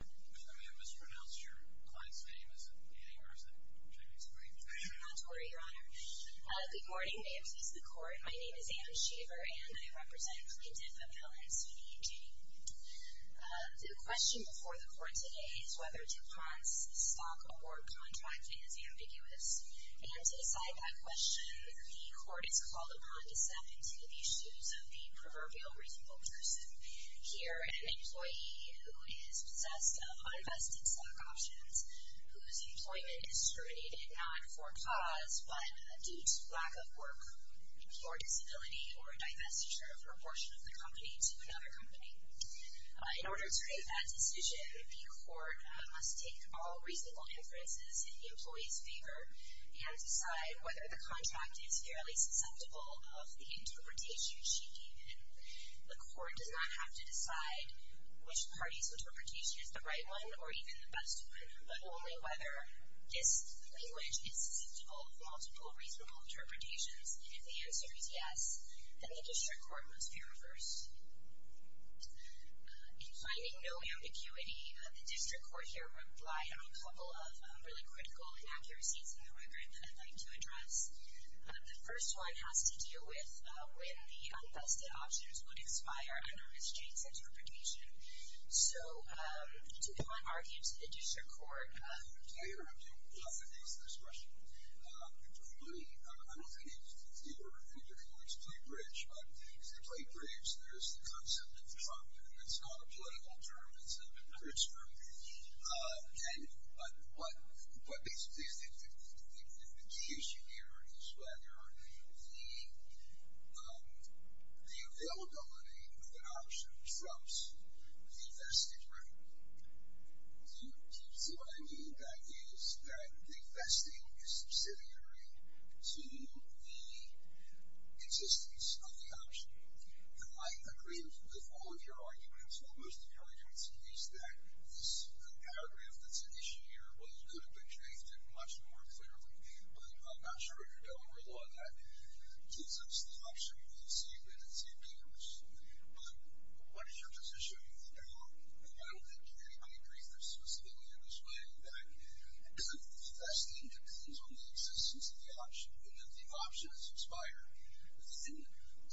If I may have mispronounced your client's name, is it Janee or is it Janee Janee? Not to worry, Your Honor. Good morning, may it please the Court. My name is Anne Shaver, and I represent Plaintiff Appellants v. Janee. The question before the Court today is whether DuPont's stock award contract is ambiguous. And to decide that question, the Court is called upon to step into the issues of the proverbial reasonable person. Here, an employee who is possessed of uninvested stock options, whose employment is discriminated not for cause, but due to lack of work, poor disability, or divestiture of a portion of the company to another company. In order to make that decision, the Court must take all reasonable inferences in the employee's favor and decide whether the contract is fairly susceptible of the interpretation she gave him. The Court does not have to decide which party's interpretation is the right one or even the best one, but only whether this language is susceptible of multiple reasonable interpretations. If the answer is yes, then the District Court must be reversed. In finding no ambiguity, the District Court here replied on a couple of really critical inaccuracies in the record that I'd like to address. The first one has to do with when the uninvested options would expire under Ms. Jane's interpretation. So, to the point argued to the District Court. I don't have time to answer this question. I don't think any of your points play bridge, but as they play bridge, there's the concept of trump, and it's not a political term, it's a bridge term. And what basically is the key issue here is whether the availability of an option trumps the invested rate. Do you see what I mean? That is, that the investing is subsidiary to the existence of the option. I agree with all of your arguments. Most of your arguments use that. This paragraph that's an issue here could have been changed much more clearly, but I'm not sure if you're going to rely on that. Since it's the option, you'll see that it's ambiguous. But what is your position on that? And I don't think anybody agrees specifically in this way that investing depends on the existence of the option, and that the option is subsidiary. Isn't that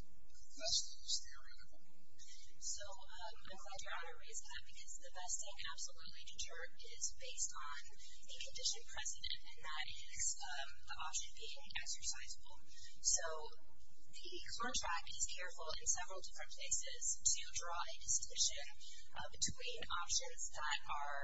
the best theory at the moment? So, I'm glad Your Honor raised that, because the vesting absolutely is based on a condition precedent, and that is the option being exercisable. So, the contract is careful in several different places to draw a distinction between options that are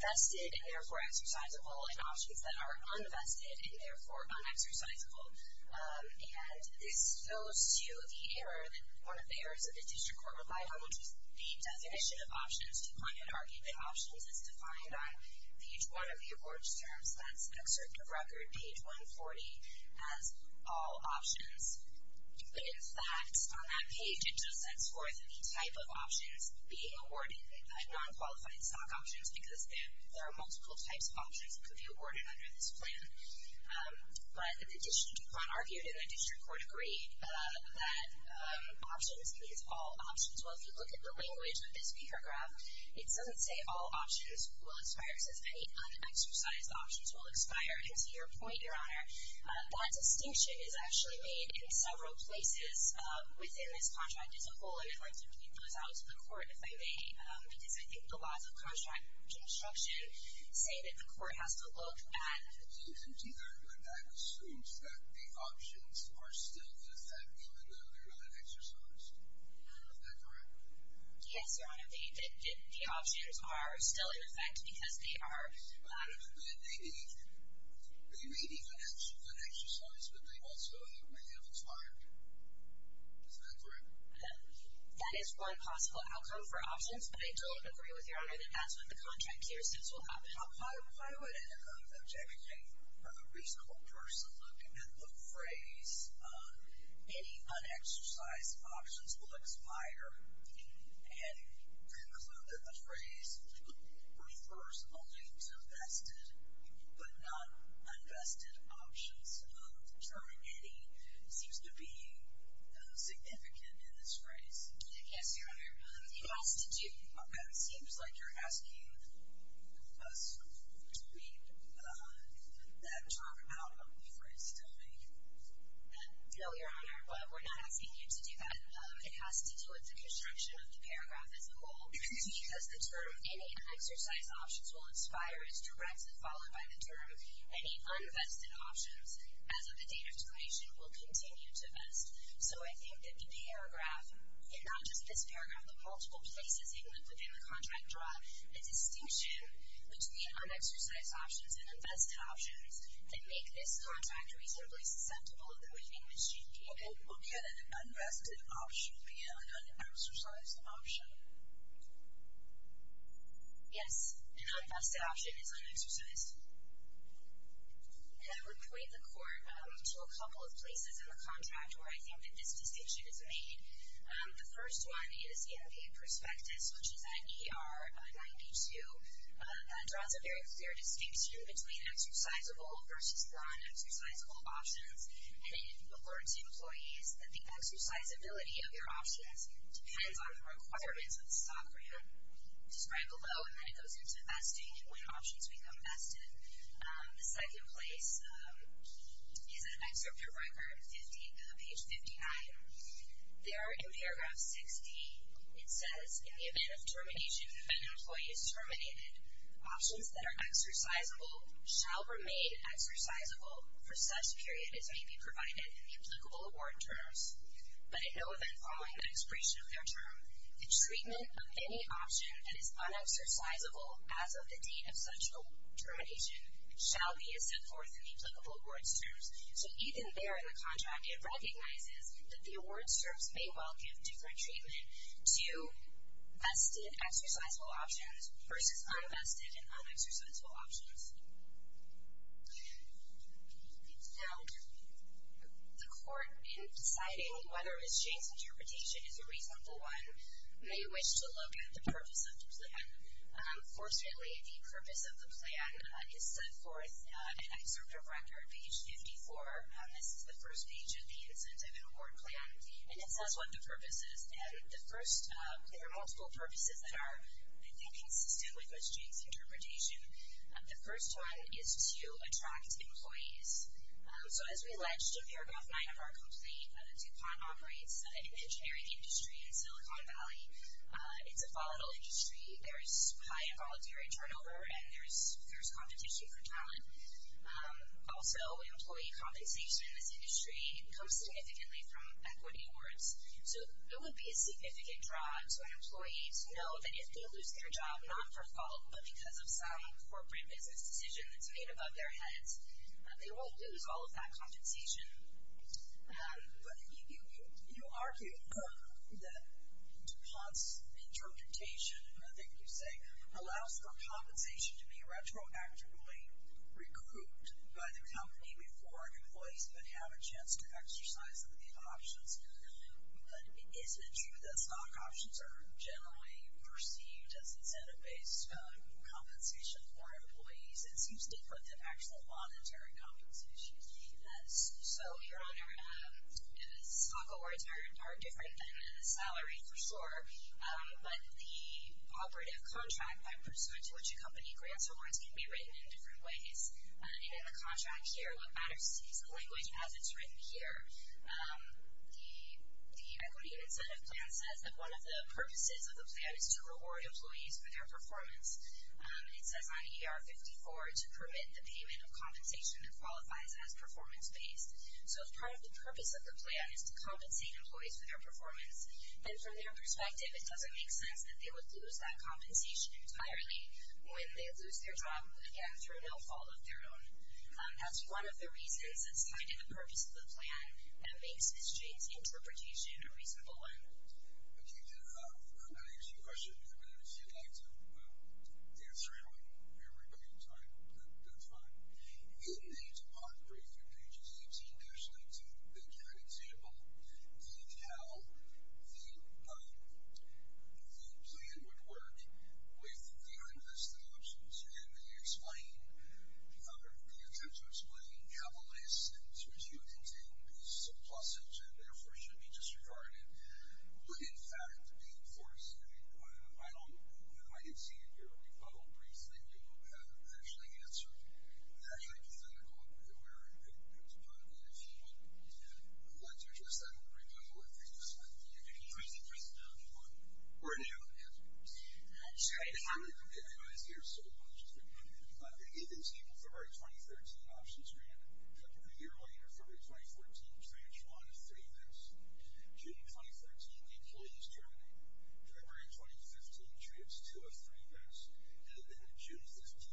vested and, therefore, exercisable, and options that are unvested and, therefore, unexercisable. And this goes to the error that one of the errors of the district court relied on, which is the definition of options. To point out that options is defined on page 1 of the awards terms. That's an excerpt of record, page 140, as all options. But, in fact, on that page, it just sets forth the type of options being awarded, non-qualified stock options, because there are multiple types of options that could be awarded under this plan. But the district court argued, and the district court agreed, that options means all options. Well, if you look at the language of this paragraph, it doesn't say all options will expire. It says any unexercised options will expire. And to your point, Your Honor, that distinction is actually made in several places within this contract. It's a whole other question. Can you throw this out to the court, if I may? Because I think the laws of contract construction say that the court has to look at It doesn't either, but I would assume that the options are still in effect, given that they're unexercised. Is that correct? Yes, Your Honor. The options are still in effect because they are They may be unexercised, but they also may have expired. Is that correct? That is one possible outcome for options. But I don't agree with Your Honor that that's what the contract here says will happen. Well, why would any kind of objection make for a reasonable person looking at the phrase any unexercised options will expire, and conclude that the phrase refers only to vested but not unvested options? The term any seems to be significant in this phrase. Yes, Your Honor. It has to do It seems like you're asking us to read that term out of the phrase to me. No, Your Honor. We're not asking you to do that. It has to do with the construction of the paragraph as a whole. Because the term any unexercised options will expire is directly followed by the term any unvested options, as of the date of declaration, will continue to vest. So I think that the paragraph, and not just this paragraph, but multiple places within the contract draw a distinction between unexercised options and unvested options that make this contract reasonably susceptible of going in with GPO. Okay, then an unvested option would be an unexercised option. Yes, an unvested option is unexercised. And I would point the Court to a couple of places in the contract where I think that this distinction is made. The first one is in the prospectus, which is at ER 92. That draws a very clear distinction between exercisable versus non-exercisable options. And it alerts employees that the exercisability of your options depends on the requirements of the stock rate. I'll describe below, and then it goes into vesting and when options become vested. The second place is in Excerpture Record 50, page 59. There in paragraph 60, it says, In the event of termination when an employee is terminated, options that are exercisable shall remain exercisable for such period as may be provided in the applicable award terms. But in no event following the expiration of their term, the treatment of any option that is unexercisable as of the date of such termination shall be as set forth in the applicable awards terms. So even there in the contract, it recognizes that the awards terms may well give different treatment to vested exercisable options versus unvested and unexercisable options. Now, the court, in deciding whether Ms. Jane's interpretation is a reasonable one, may wish to look at the purpose of the plan. Fortunately, the purpose of the plan is set forth in Excerpture Record, page 54. This is the first page of the incentive and award plan. And it says what the purpose is. And the first, there are multiple purposes that are, I think, consistent with Ms. Jane's interpretation. The first one is to attract employees. So as we alleged in paragraph 9 of our complaint, DuPont operates an engineering industry in Silicon Valley. It's a volatile industry. There is high involuntary turnover and there is fierce competition for talent. Also, employee compensation in this industry comes significantly from equity awards. So it would be a significant draw to employees to know that if they lose their job, not for fault, but because of some corporate business decision that's made above their heads, they won't lose all of that compensation. But you argue that DuPont's interpretation, I think you say, allows for compensation to be retroactively recruited by the company before employees would have a chance to exercise any of the options. But is it true that stock options are generally perceived as incentive-based compensation for employees? It seems different than actual monetary compensation. So, Your Honor, stock awards are different than salary, for sure. But the operative contract by pursuit to which a company grants awards can be written in different ways. And in the contract here, what matters is the language as it's written here. The equity incentive plan says that one of the purposes of the plan is to reward employees for their performance. It says on ER54 to permit the payment of compensation that qualifies as performance-based. So if part of the purpose of the plan is to compensate employees for their performance, then from their perspective, it doesn't make sense that they would lose that compensation entirely when they lose their job, again, through no fault of their own. That's one of the reasons that's tied to the purpose of the plan and makes Ms. Jane's interpretation a reasonable one. Okay. Now, here's a question I would actually like to answer. I don't know if everybody can type. That's fine. In the DuPont breakthrough pages, they give an example of how the plan would work with their investment options, and they attempt to explain how a list in which you have contained pieces of plussage and therefore should be disregarded would, in fact, be enforced. I don't know if you might have seen it here, but a brief thing you haven't actually answered. It actually doesn't go up anywhere. It's not an issue. I'd like to address that and rebuttal it for you this month. You can press it down if you want. We're new. Yes. I'm sorry. You guys are here so long. Just give me a minute. They give these people February 2013 options granted. A couple of years later, February 2014, transfer on a free VINs. June 2013, the employees terminate. February 2015, trips to a free VIN. And then June 15,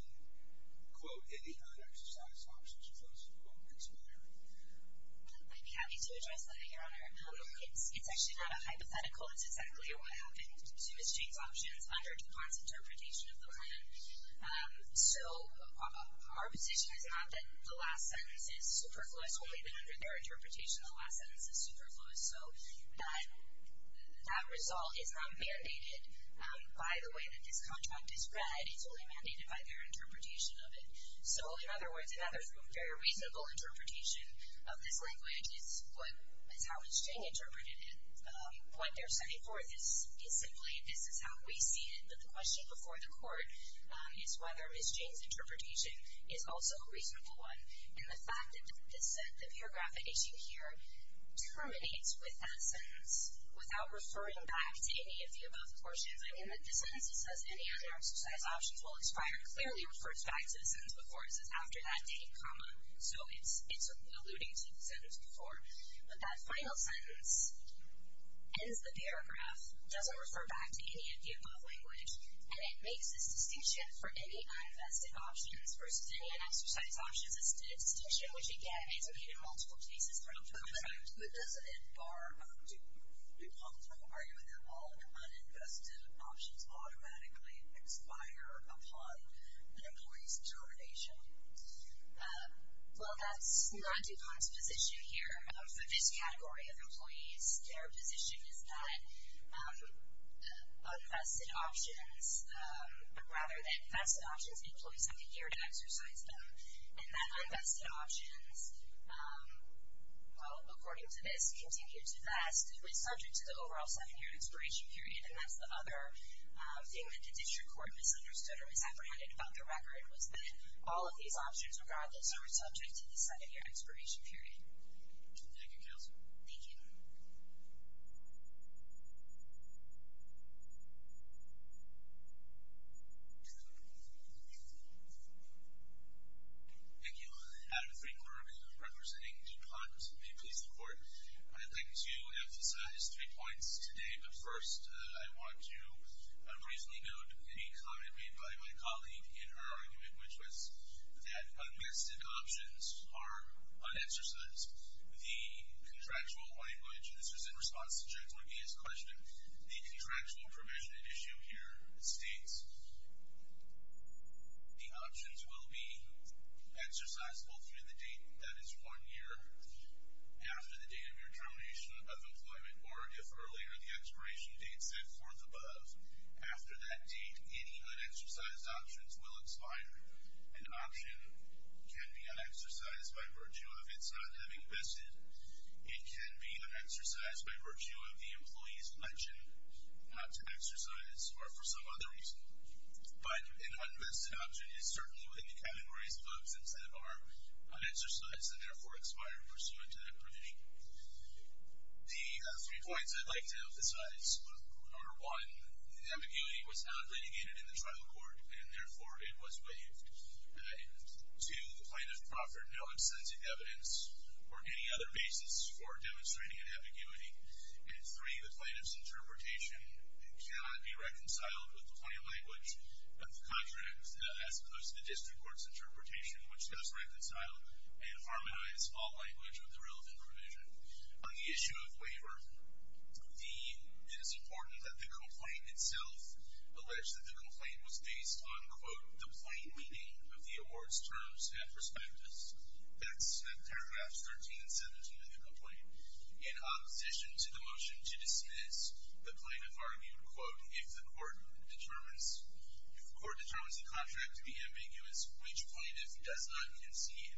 quote, any unexercised options, close quote. Thanks, Mary. I'd be happy to address that, Your Honor. It's actually not a hypothetical. It's exactly what happened to Ms. Jane's options under DuPont's interpretation of the plan. So our position is not that the last sentence is superfluous. Only that under their interpretation, the last sentence is superfluous. So that result is not mandated by the way that this contract is read. It's only mandated by their interpretation of it. So, in other words, another very reasonable interpretation of this language is how Ms. Jane interpreted it. What they're setting forth is simply this is how we see it. But the question before the court is whether Ms. Jane's interpretation is also a reasonable one. And the fact that this set, the paragraph at issue here, terminates with that sentence without referring back to any of the above portions. I mean, the sentence that says any unexercised options will expire clearly refers back to the sentence before. It says after that date, comma. So it's alluding to the sentence before. But that final sentence ends the paragraph, doesn't refer back to any of the above language, and it makes this distinction for any uninvested options versus any unexercised options. It's a distinction which, again, is made in multiple cases throughout the country. But does it bar DuPont from arguing that all uninvested options automatically expire upon an employee's termination? Well, that's not DuPont's position here for this category of employees. Their position is that unvested options, rather than vested options, employees have a year to exercise them. And that unvested options, well, according to this, continue to vest. It was subject to the overall seven-year expiration period, and that's the other thing that the district court misunderstood or was apprehended about the record, was that all of these options, regardless, are subject to the seven-year expiration period. Thank you, Counselor. Thank you. Thank you. Adam Finkler, representing DuPont. May it please the Court. I'd like to emphasize three points today, but first I want to reasonably note a comment made by my colleague in her argument, which was that unvested options are unexercised. The contractual language, and this was in response to Judge McGee's question, the contractual provision and issue here states the options will be exercisable through the date, that is, one year after the date of your termination of employment, or if earlier the expiration date said fourth above. After that date, any unexercised options will expire. An option can be unexercised by virtue of its not having vested. It can be unexercised by virtue of the employee's election not to exercise or for some other reason. But an unvested option is certainly within the categories of exemptions that are unexercised and therefore expire pursuant to that provision. The three points I'd like to emphasize are one, ambiguity was not litigated in the trial court and therefore it was waived. Two, the plaintiff proffered no extensive evidence or any other basis for demonstrating an ambiguity. And three, the plaintiff's interpretation cannot be reconciled with the plain language of the contract as opposed to the district court's interpretation, which does reconcile and harmonize all language with the relevant provision. On the issue of waiver, it is important that the complaint itself, alleged that the complaint was based on, quote, the plain meaning of the award's terms and prospectus. That's paragraph 13, 17 of the complaint. In opposition to the motion to dismiss, the plaintiff argued, quote, if the court determines the contract to be ambiguous, which plaintiff does not concede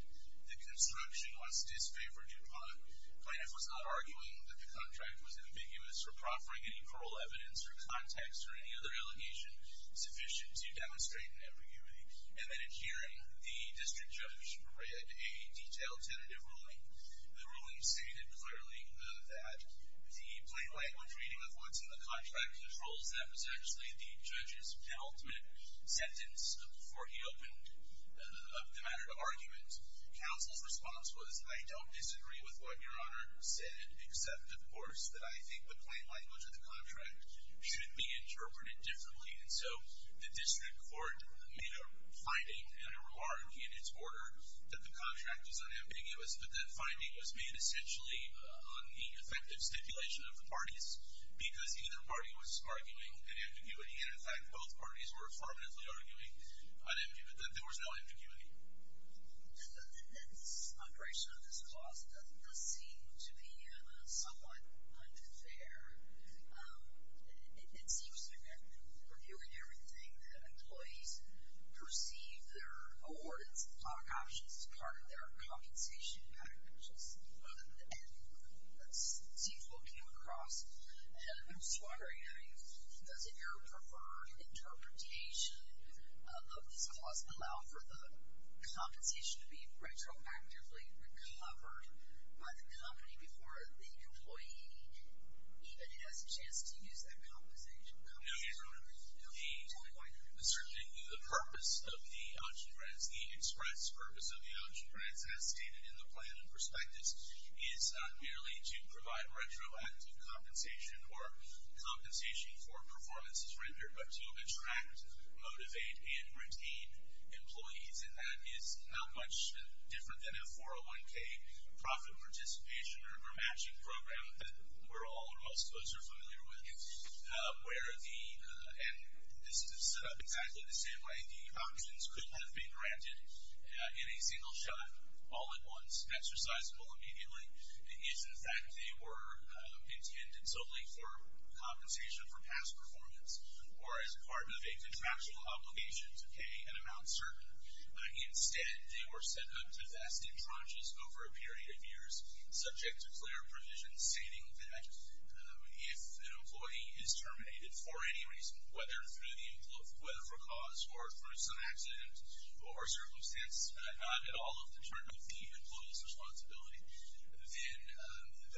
that construction was disfavored upon. Plaintiff was not arguing that the contract was ambiguous or proffering any plural evidence or context or any other allegation sufficient to demonstrate an ambiguity. And then in hearing, the district judge read a detailed tentative ruling. The ruling stated clearly that the plain language reading of what's in the contract controls that was actually the judge's penultimate sentence before he opened the matter to argument. Counsel's response was, I don't disagree with what Your Honor said, except, of course, that I think the plain language of the contract should be interpreted differently. And so the district court made a finding and a reward in its order that the contract was unambiguous, but that finding was made essentially on the effective stipulation of the parties because either party was arguing an ambiguity. And, in fact, both parties were affirmatively arguing that there was no ambiguity. And this moderation of this clause does seem to be somewhat unfair. It seems to me that we're doing everything that employees perceive their award options as part of their compensation package. And that seems to come across as a bit of a swaggering. I mean, doesn't your preferred interpretation of this clause allow for the compensation to be retroactively recovered by the company before the employee even has a chance to use that compensation? No, Your Honor. Tell me why that is. The purpose of the option grants, the express purpose of the option grants, as stated in the plan and perspectives, is not merely to provide retroactive compensation or compensation for performances rendered, but to attract, motivate, and retain employees. And that is not much different than a 401K profit participation or matching program that we're all or most of us are familiar with, where the, and this is set up exactly the same way, the options could have been granted in a single shot, all at once, exercisable immediately. It's the fact that they were intended solely for compensation for past performance or as part of a contractual obligation to pay an amount certain. Instead, they were set up to vest in tranches over a period of years, subject to clear provisions stating that if an employee is terminated for any reason, whether for cause or through some accident or circumstance, not at all determined by the employee's responsibility, then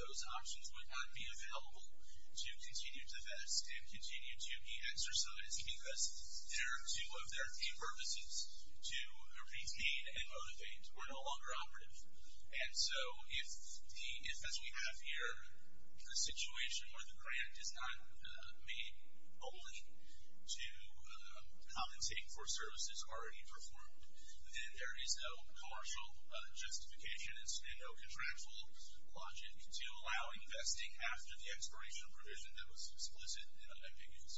those options would not be available to continue to vest and continue to be exercised because they're two of their three purposes, to retain and motivate. We're no longer operative. And so if, as we have here, the situation where the grant is not made only to compensate for services already performed, then there is no partial justification. And there's no contractual logic to allow investing after the expiration of a provision that was explicit in an amicus.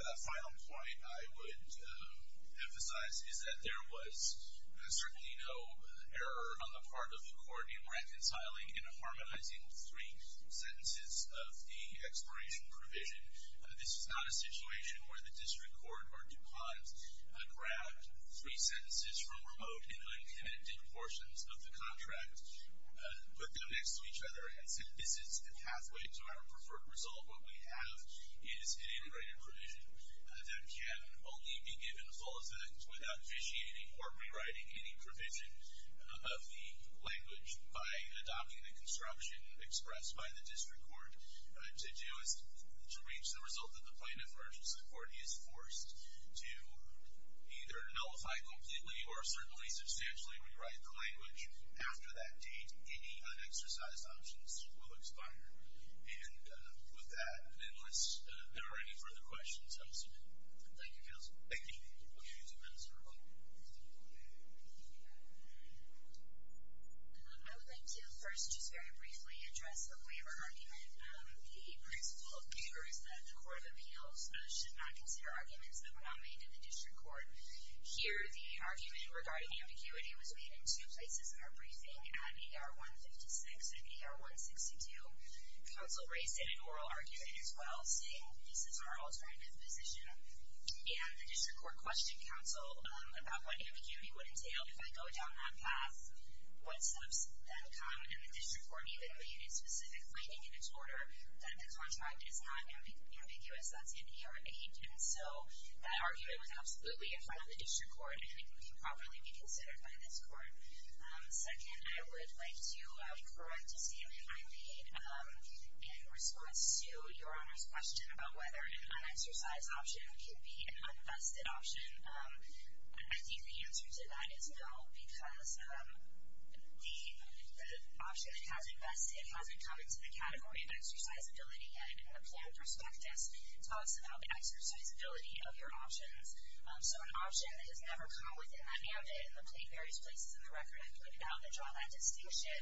The final point I would emphasize is that there was certainly no error on the part of the court in reconciling and harmonizing three sentences of the expiration provision. This is not a situation where the district court or DuPont grabbed three sentences from remote and uncommitted portions of the contract, put them next to each other, and said, this is the pathway to our preferred result. What we have is an integrated provision that can only be given full effect without vitiating or rewriting any provision of the language by adopting the construction expressed by the district court to reach the result that the plaintiff urges the court. He is forced to either nullify completely or certainly substantially rewrite the language. After that date, any unexercised options will expire. And with that, unless there are any further questions, I will submit. Thank you, counsel. Thank you. Thank you, counsel. I would like to first just very briefly address the waiver argument. The principle of the waiver is that the court of appeals should not consider arguments that were not made in the district court. Here, the argument regarding ambiguity was made in two places in our briefing, at AR 156 and AR 162. Counsel raised it in oral argument as well, saying, this is our alternative position. And the district court questioned counsel about what ambiguity would entail if I go down that path, what steps then come in the district court, even though you did specific planning in its order, that the contract is not ambiguous. That's in AR 8. And so that argument was absolutely in front of the district court and it can properly be considered by this court. Second, I would like to correct a statement I made in response to Your Honor's question about whether an unexercised option can be an unvested option. I think the answer to that is no, because the option that has invested hasn't come into the category of exercisability yet. And the plan prospectus talks about the exercisability of your options. So an option that has never come within that mandate, and the various places in the record I've pointed out that draw that distinction,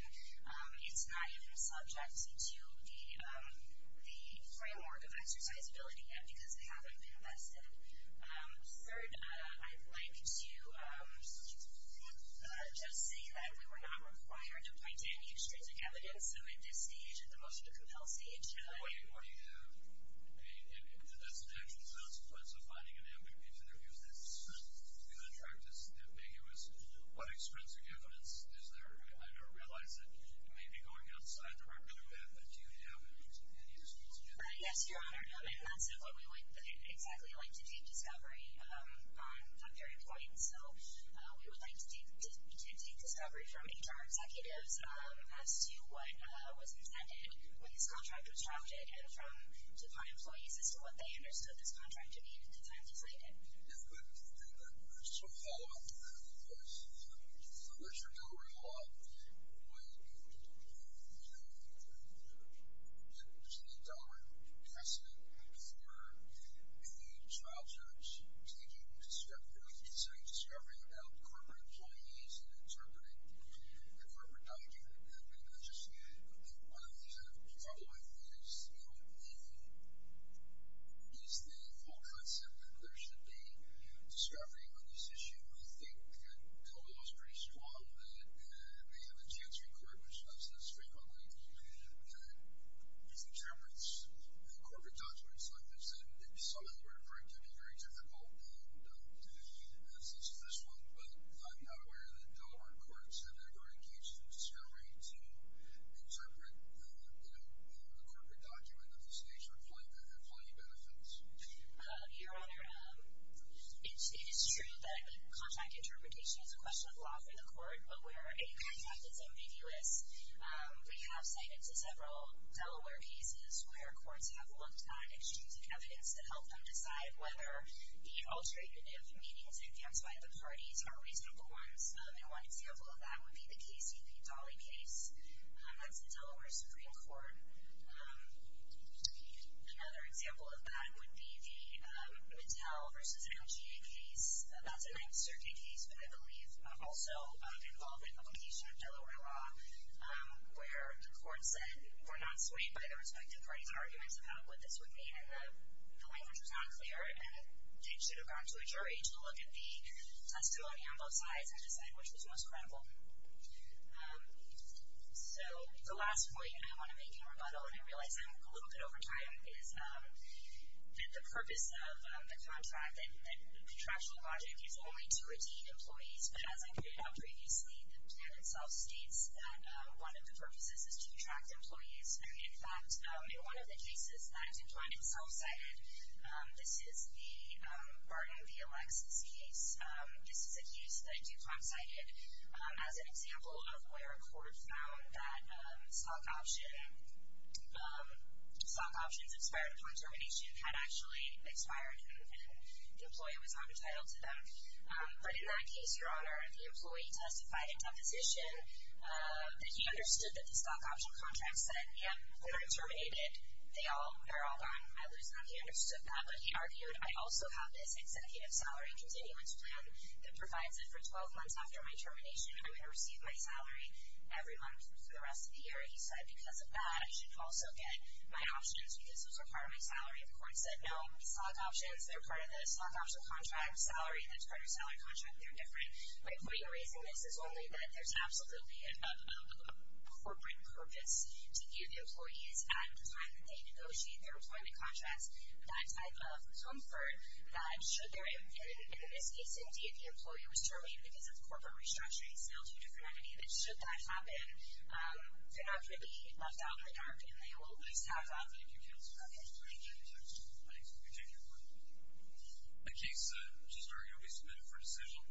it's not even subject to the framework of exercisability yet because they haven't been invested. Third, I'd like to just say that we were not required to point to any extrinsic evidence. So at this stage, at the most of the compel stage, What do you have? That's an actual consequence of finding an ambiguity to the review. The contract is ambiguous. What extrinsic evidence is there? I don't realize that you may be going outside the record a bit, but do you have anything that you can speak to? Yes, Your Honor, and that's not what we would exactly like to take discovery on at that point. So we would like to take discovery from HR executives as to what was intended when this contract was drafted and from DuPont employees as to what they understood this contract to mean at the time they signed it. I just want to follow up because unless you're not aware of the law, when it was an intolerant precedent for a child search, I think it was a step forward in setting discovery about corporate employees and interpreting the corporate document. I think one of the problems I think is the whole concept that there should be discovery on this issue. I think that the law is pretty strong that they have a chance record, which is absolutely straight forward, that interprets the corporate documents like this. And if someone were to break it, it would be very difficult, and that's just this one. But I'm not aware that Delaware courts have ever engaged in discovery to interpret the corporate document of this nature. They have plenty of benefits. Your Honor, it is true that contract interpretation is a question of law for the court, but where a contract is ambiguous. We have cited several Delaware cases where courts have looked at extrinsic evidence to help them decide whether the alternative meanings they've used by the parties are reasonable ones, and one example of that would be the Casey v. Dolly case. That's the Delaware Supreme Court. Another example of that would be the Mattel v. MGA case. That's a 9th Circuit case, but I believe also involved an application of Delaware law, where the court said we're not swayed by the respective parties' arguments about what this would mean, and the language was not clear, and they should have gone to a jury to look at the testimony on both sides and decide which was most credible. So the last point I want to make in rebuttal, and I realize I'm a little bit over time, is that the purpose of the contract, the contractual logic is only to redeem employees, but as I pointed out previously, the plan itself states that one of the purposes is to attract employees. In fact, in one of the cases that DuPont itself cited, this is the Barton v. Alexis case. This is a case that DuPont cited as an example of where a court found that stock options expired upon termination had actually expired and the employee was not entitled to them. But in that case, Your Honor, the employee testified in deposition that he understood that the stock option contract said, yeah, they're terminated. They're all gone. He understood that, but he argued, I also have this executive salary continuance plan that provides it for 12 months after my termination. I'm going to receive my salary every month for the rest of the year. He said because of that, I should also get my options because those are part of my salary. The court said, no, stock options, they're part of the stock option contract salary. That's part of your salary contract. They're different. My point in raising this is only that there's absolutely a corporate purpose to give employees at the time that they negotiate their employment contracts that type of comfort that should they're in, in this case, indeed, the employee was terminated because of corporate restructuring. It's now two different entities. Should that happen, they're not going to be left out in the dark, and they will at least have that. Thank you, Counselor. Okay. Thank you, Judge. Thank you. Thank you, Your Honor. The case just argued will be submitted for decision.